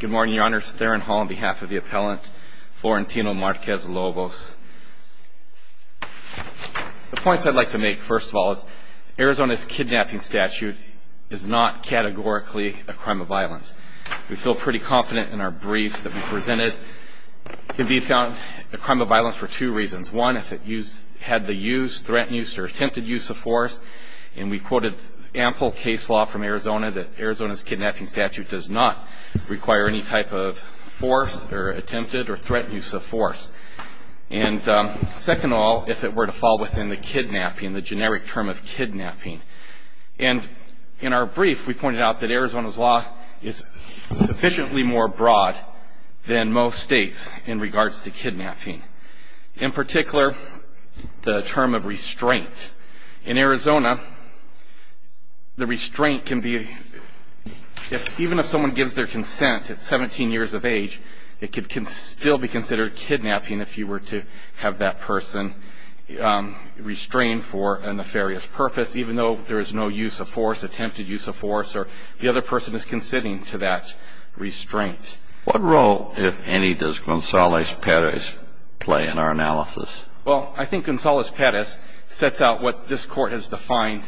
Good morning, your honors. Theron Hall on behalf of the appellant Florentino Marquez-Lobos. The points I'd like to make, first of all, is Arizona's kidnapping statute is not categorically a crime of violence. We feel pretty confident in our brief that we presented can be found a crime of violence for two reasons. One, if it had the use, threatened use, or attempted use of force, and we quoted ample case law from Arizona that Arizona's kidnapping statute does not require any type of force or attempted or threatened use of force. And second of all, if it were to fall within the kidnapping, the generic term of kidnapping. And in our brief, we pointed out that Arizona's law is sufficiently more broad than most states in regards to kidnapping, in particular, the term of restraint. In Arizona, the restraint can be, if even if someone gives their consent at 17 years of age, it could still be considered kidnapping if you were to have that person restrained for a nefarious purpose, even though there is no use of force, attempted use of force, or the other person is considering to that restraint. What role, if any, does Gonzalez-Perez play in our analysis? Well, I think Gonzalez-Perez sets out what this Court has defined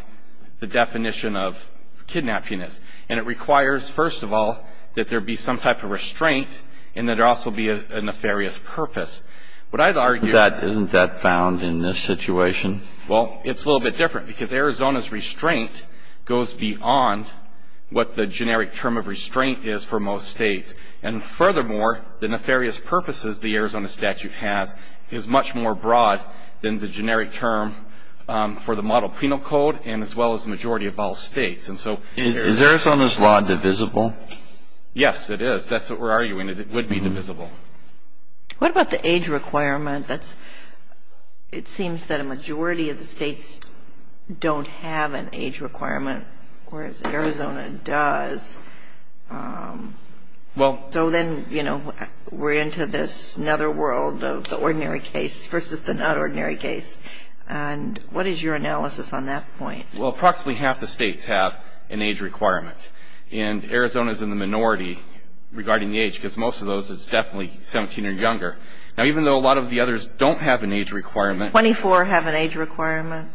the definition of kidnapping as. And it requires, first of all, that there be some type of restraint and that there also be a nefarious purpose. What I'd argue that isn't that found in this situation? Well, it's a little bit different because Arizona's restraint goes beyond what the generic term of restraint is for most states. And furthermore, the nefarious purposes the Arizona statute has is much more broad than the generic term for the model penal code and as well as the majority of all states. Is Arizona's law divisible? Yes, it is. That's what we're arguing. It would be divisible. What about the age requirement? It seems that a majority of the states don't have an age requirement, whereas Arizona does. So then, you know, we're into this other world of the ordinary case versus the not ordinary case. And what is your analysis on that point? Well, approximately half the states have an age requirement. And Arizona's in the minority regarding the age, because most of those, it's definitely 17 or younger. Now, even though a lot of the others don't have an age requirement. 24 have an age requirement.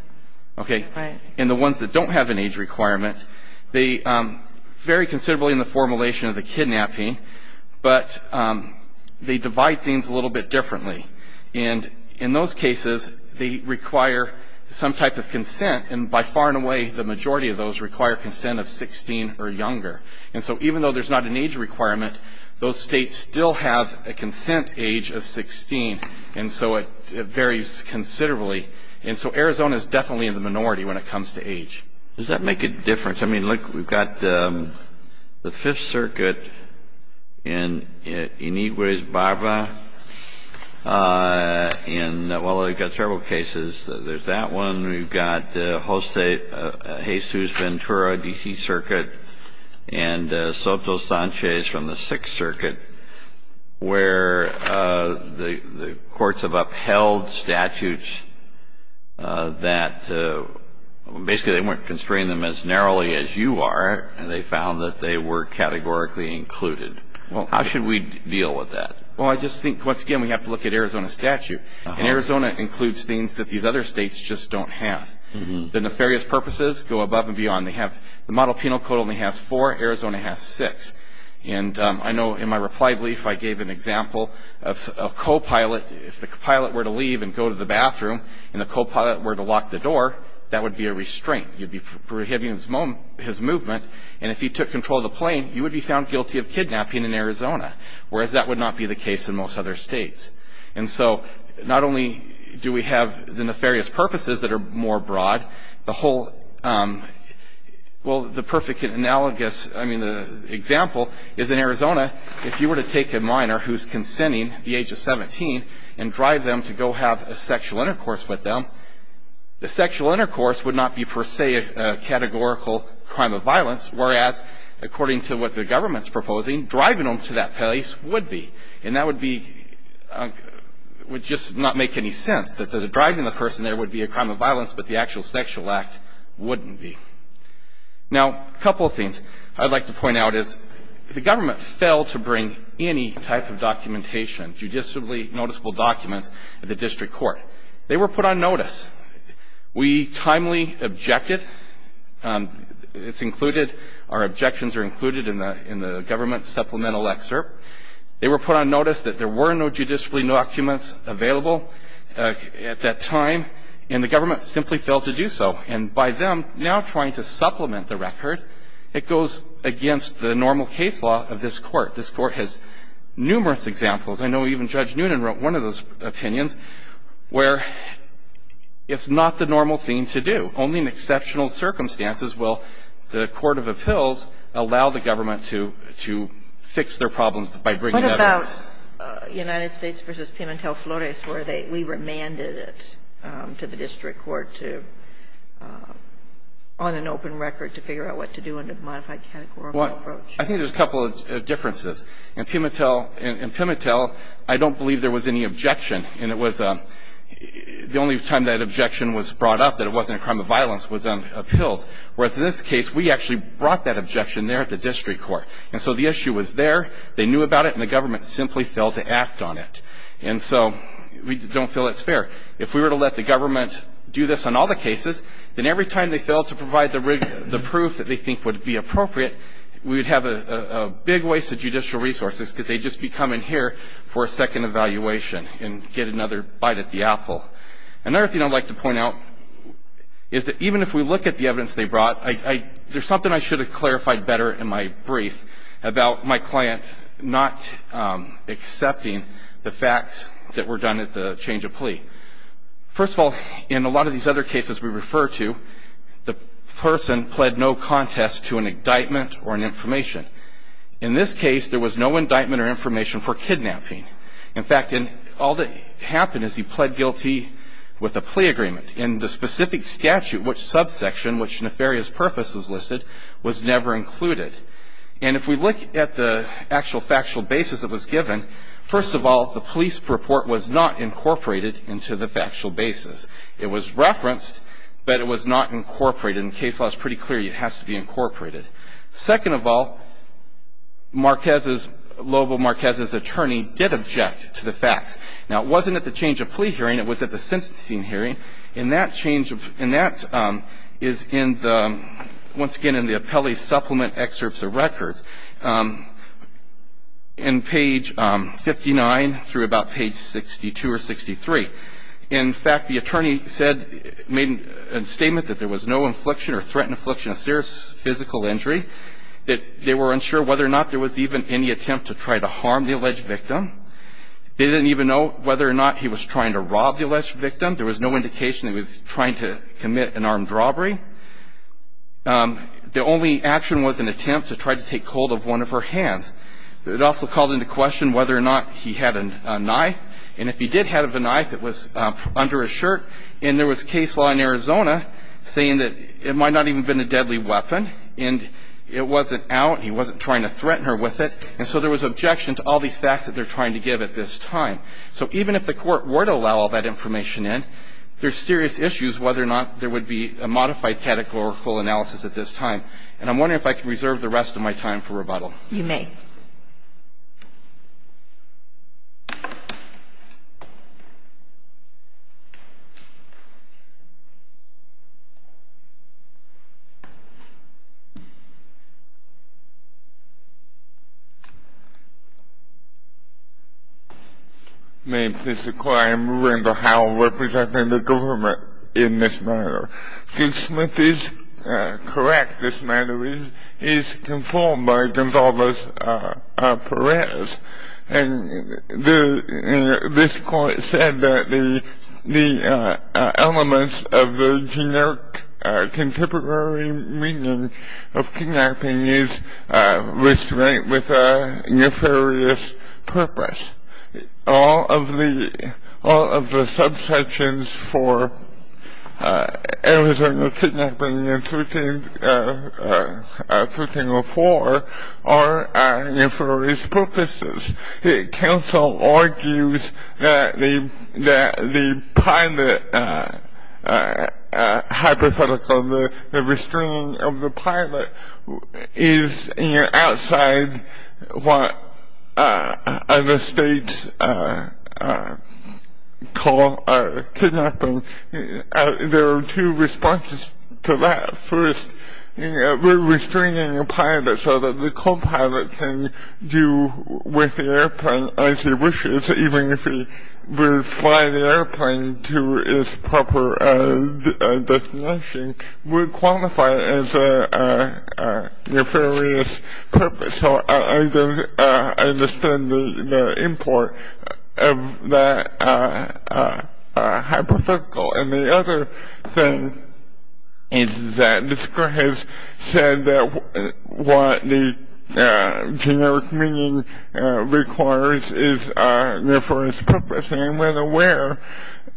Okay. And the ones that don't have an age requirement, they vary considerably in the formulation of the kidnapping, but they divide things a little bit differently. And in those cases, they require some type of consent. And by far and away, the majority of those require consent of 16 or younger. And so even though there's not an age requirement, those states still have a consent age of 16. And so it varies considerably. And so Arizona is definitely in the minority when it comes to age. Does that make a difference? I mean, look, we've got the Fifth Circuit in Iniguez, Barbara. And, well, we've got several cases. There's that one. We've got Jose Jesus Ventura, D.C. Circuit, and Soto Sanchez from the Sixth Circuit, where the courts have upheld statutes that basically they weren't constraining them as narrowly as you are, and they found that they were categorically included. Well, how should we deal with that? Well, I just think, once again, we have to look at Arizona statute. And Arizona includes things that these other states just don't have. The nefarious purposes go above and beyond. They have the model penal code only has four. Arizona has six. And I know in my reply brief, I gave an example of a co-pilot. If the bathroom and the co-pilot were to lock the door, that would be a restraint. You'd be prohibiting his movement. And if he took control of the plane, you would be found guilty of kidnapping in Arizona, whereas that would not be the case in most other states. And so not only do we have the nefarious purposes that are more broad, the whole, well, the perfect analogous, I mean, the example is in Arizona, if you were to take a minor who's consenting at the age of 17 and drive them to go have a sexual intercourse with them, the sexual intercourse would not be, per se, a categorical crime of violence, whereas, according to what the government's proposing, driving them to that place would be. And that would be, would just not make any sense, that driving the person there would be a crime of violence, but the actual sexual act wouldn't be. Now, a couple of things I'd like to point out is, if the government failed to bring any type of documentation, judicially noticeable documents, to the district court, they were put on notice. We timely objected. It's included, our objections are included in the government's supplemental excerpt. They were put on notice that there were no judicially documents available at that time, and the government simply failed to do so. And by them now trying to supplement the record, it goes against the normal case law of this court. This court has numerous examples. I know even Judge Noonan wrote one of those opinions, where it's not the normal thing to do. Only in exceptional circumstances will the court of appeals allow the government to fix their problems by bringing evidence. What about United States v. Pimentel Flores, where we remanded it to the district court to, on an open record, to figure out what to do in a modified categorical approach? I think there's a couple of differences. In Pimentel, I don't believe there was any objection, and it was, the only time that objection was brought up, that it wasn't a crime of violence, was on appeals. Whereas in this case, we actually brought that objection there at the district court. And so the issue was there, they knew about it, and the government simply failed to act on it. And so we don't feel it's fair. If we were to let the government do this on all the cases, then every time they failed to provide the proof that they think would be appropriate, we would have a big waste of judicial resources, because they'd just be coming here for a second evaluation and get another bite at the apple. Another thing I'd like to point out is that even if we look at the evidence they brought, there's something I should have clarified better in my brief about my client not accepting the facts that were done at the change of plea. First of all, in a lot of these other cases we refer to, the person pled no contest to an indictment or an information. In this case, there was no indictment or information for kidnapping. In fact, all that happened is he pled guilty with a plea agreement. In the specific statute, which subsection, which nefarious purpose was listed, was never included. And if we look at the actual factual basis that was given, first of all, the police report was not incorporated into the factual basis. It was referenced, but it was not incorporated. In case law, it's pretty clear it has to be incorporated. Second of all, Marquez's, Louisville Marquez's attorney did object to the facts. Now, it wasn't at the change of plea hearing. It was at the sentencing hearing. And that change, and that is in the, once again, in the appellee's supplement excerpts of records in page 59 through about page 62 or 63. In fact, the attorney said, made a statement that there was no infliction or threatened affliction of serious physical injury, that they were unsure whether or not there was even any attempt to try to harm the alleged victim. They didn't even know whether or not he was trying to rob the alleged victim. There was no indication he was trying to commit an armed robbery. The only action was an attempt to try to take hold of one of her hands. It also called into question whether or not he had a knife. And if he did have a knife, it was under his shirt. And there was case law in Arizona saying that it might not even have been a deadly weapon. And it wasn't out. He wasn't trying to threaten her with it. And so there was objection to all these facts that they're trying to give at this time. So even if the Court were to allow all that information in, there's serious issues whether or not there would be a modified categorical analysis at this time. And I'm wondering if I can reserve the rest of my time for rebuttal. You may. May I please inquire into how I'm representing the government in this matter? Duke Smith is correct in this matter. He is conformed by Gonzalez-Perez. And this Court said that the elements of the generic contemporary meaning of kidnapping is with a nefarious purpose. All of the subsections for Arizona kidnapping in 1304 are for nefarious purposes. Counsel argues that the pilot hypothetical, the restraining of the pilot, is outside what other states call kidnapping. There are two responses to that. First, restraining the pilot so that the co-pilot can do with the airplane as he wishes, even if he would fly the airplane to its proper destination, would qualify as a nefarious purpose. And so I understand the import of that hypothetical. And the other thing is that this Court has said that what the generic meaning requires is a nefarious purpose. And I'm not aware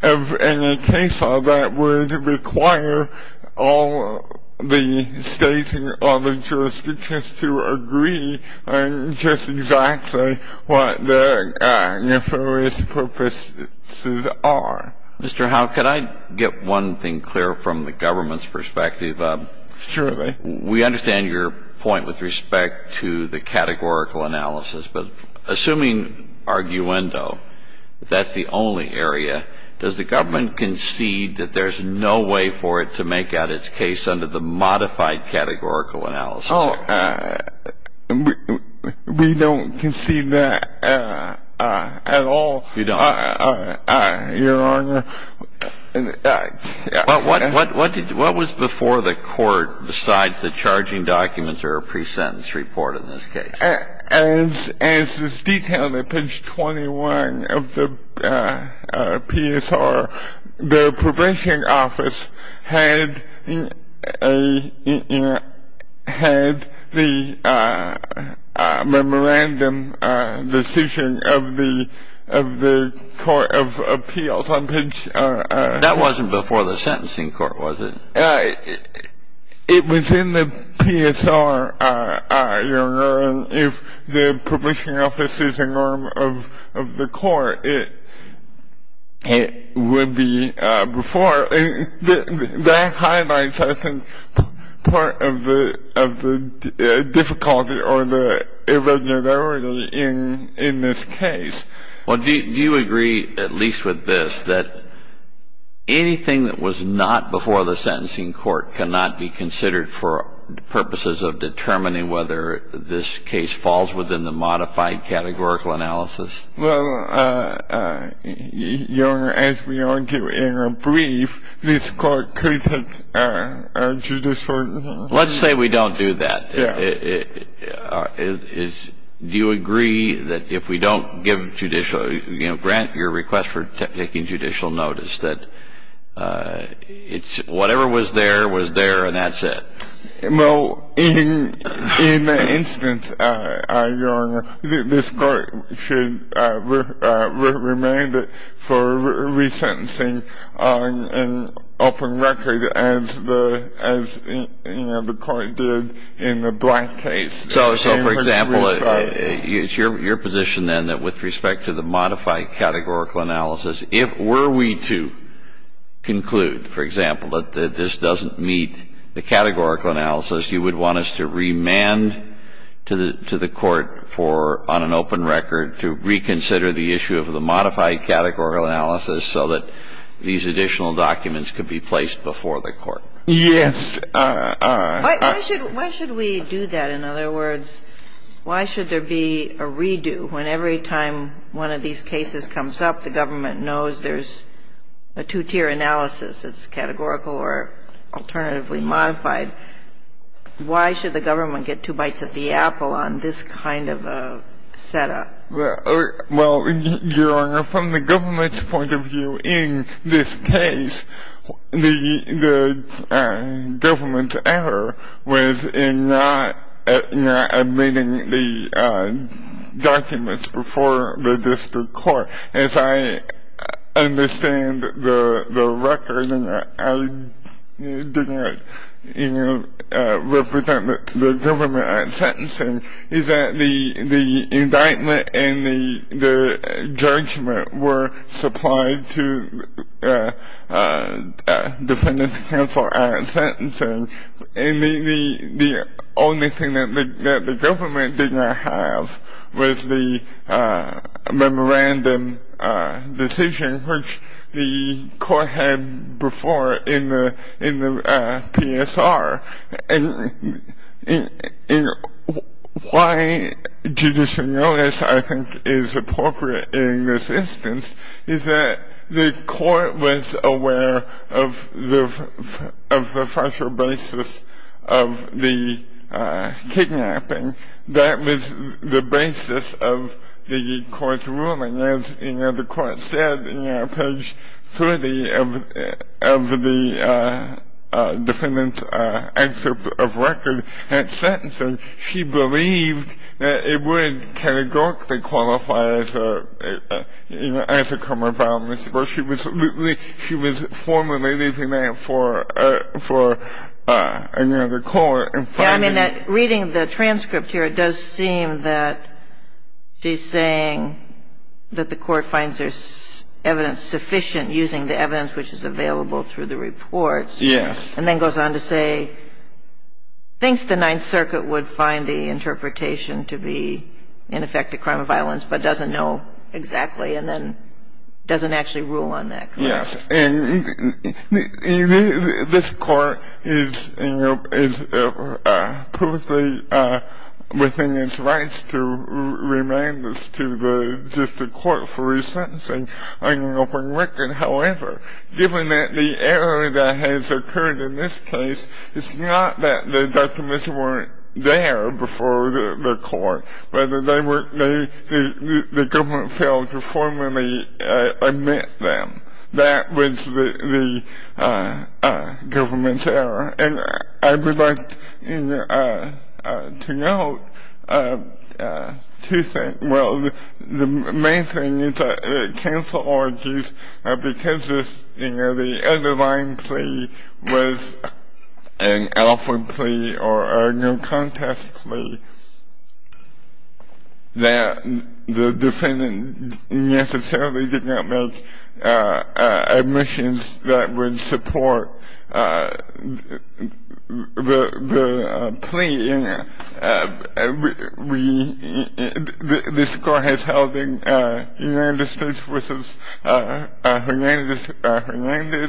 of any case law that would require all the states and all the jurisdictions to agree on just exactly what the nefarious purposes are. Mr. Howe, could I get one thing clear from the government's perspective? Surely. We understand your point with respect to the categorical analysis, but assuming arguendo, that's the only area, does the government concede that there's no way for it to make out its case under the modified categorical analysis? We don't concede that at all. You don't? Your Honor, What was before the Court besides the charging documents or a pre-sentence report in this case? As is detailed in page 21 of the PSR, the Prohibition Office had the memorandum decision of the Court of Appeals on page... That wasn't before the sentencing court, was it? It was in the PSR, Your Honor, and if the Prohibition Office is a norm of the Court, it would be before. That highlights, I think, part of the difficulty or the irregularity in this case. Well, do you agree, at least with this, that anything that was not before the sentencing court cannot be considered for purposes of determining whether this case falls within the modified categorical analysis? Well, Your Honor, as we argue in a brief, this Court could take a judicial... Let's say we don't do that. Yes. Do you agree that if we don't grant your request for taking judicial notice, that whatever was there was there and that's it? Well, in that instance, Your Honor, this Court should remand it for resentencing on an open record as the Court did in the Black case. So, for example, it's your position then that with respect to the modified categorical analysis, if were we to conclude, for example, that this doesn't meet the categorical analysis, you would want us to remand to the Court for on an open record to reconsider the issue of the modified categorical analysis so that these additional documents could be placed before the Court? Yes. Why should we do that? In other words, why should there be a redo when every time one of these cases comes up, the government knows there's a two-tier analysis that's categorical or alternatively modified? Why should the government get two bites at the apple on this kind of a setup? Well, Your Honor, from the government's point of view in this case, the government's error was in not admitting the documents before the District Court. As I understand the record, I did not represent the government at sentencing. It's that the indictment and the judgment were supplied to the Defendant's Counsel at sentencing. And the only thing that the government did not have was the memorandum decision, which the Court had before in the PSR. And why judicial notice, I think, is appropriate in this instance is that the Court was aware of the factual basis of the kidnapping. That was the basis of the Court's ruling. As the Court said on page 30 of the Defendant's answer of record at sentencing, she believed that it would categorically qualify as a criminal violation. But she was formally leaving that for another Court. Reading the transcript here, it does seem that she's saying that the Court finds there's evidence sufficient using the evidence which is available through the reports. Yes. And then goes on to say thinks the Ninth Circuit would find the interpretation to be, in effect, a crime of violence, but doesn't know exactly and then doesn't actually rule on that. Yes. And this Court is politically within its rights to remand this to the District Court for resentencing on an open record. However, given that the error that has occurred in this case, it's not that the documents weren't there before the Court, but the government failed to formally admit them. That was the government's error. And I would like to note two things. Well, the main thing is that it canceled orgies because the underlying plea was an alpha plea or a no contest plea that the Defendant necessarily did not make admissions that would support the plea. This Court has held in United States v. Hernandez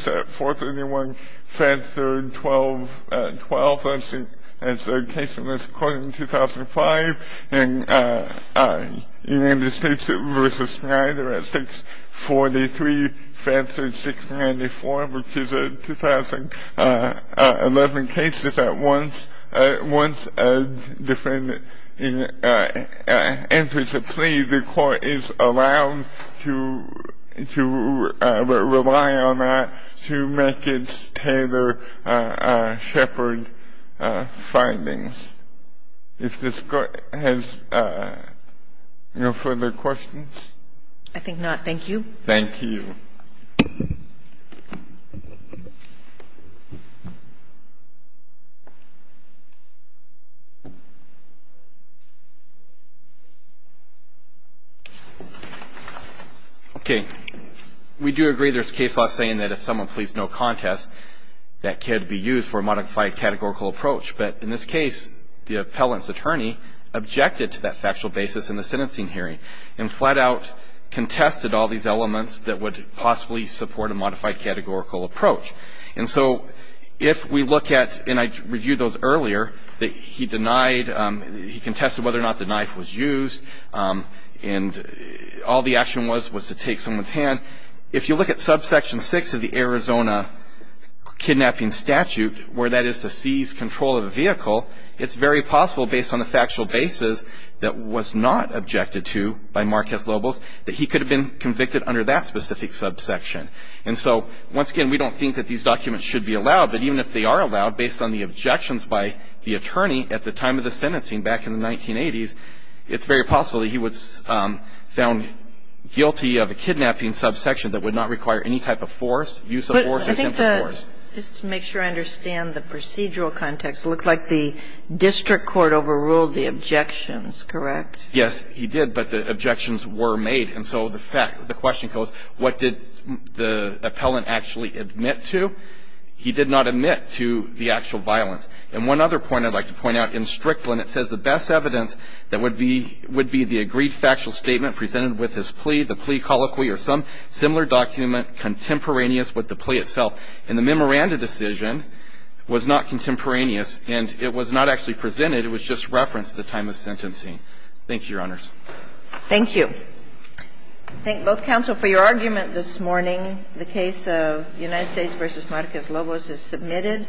at 431, Fentzer at 1212 as the case in this Court in 2005, and United States v. Snyder at 643, Fentzer at 694, which is 2011 cases at once. Once a Defendant enters a plea, the Court is allowed to rely on that to make its tailored shepherd findings. If this Court has no further questions? I think not. Thank you. Thank you. Okay. We do agree there's case law saying that if someone pleads no contest, that can be used for a modified categorical approach. But in this case, the appellant's attorney objected to that factual basis in the sentencing hearing and flat out contested all these elements that would possibly support a modified categorical approach. And so if we look at, and I reviewed those earlier, that he denied, he contested whether or not the knife was used, and all the action was was to take someone's hand. If you look at Subsection 6 of the Arizona Kidnapping Statute, where that is to seize control of a vehicle, it's very possible based on the factual basis that was not objected to by Marquez-Lobos that he could have been convicted under that specific subsection. And so once again, we don't think that these documents should be allowed, but even if they are allowed based on the objections by the attorney at the time of the sentencing back in the 1980s, it's very possible that he was found guilty of a kidnapping subsection that would not require any type of force, use of force or temporary force. But I think that, just to make sure I understand the procedural context, it looked like the district court overruled the objections, correct? Yes, he did, but the objections were made. And so the question goes, what did the appellant actually admit to? He did not admit to the actual violence. And one other point I'd like to point out, in Strickland, it says the best evidence that would be the agreed factual statement presented with his plea, the plea colloquy or some similar document contemporaneous with the plea itself. And the memoranda decision was not contemporaneous, and it was not actually presented. It was just referenced at the time of sentencing. Thank you, Your Honors. Thank you. I thank both counsel for your argument this morning. The case of United States v. Marquez-Lobos is submitted.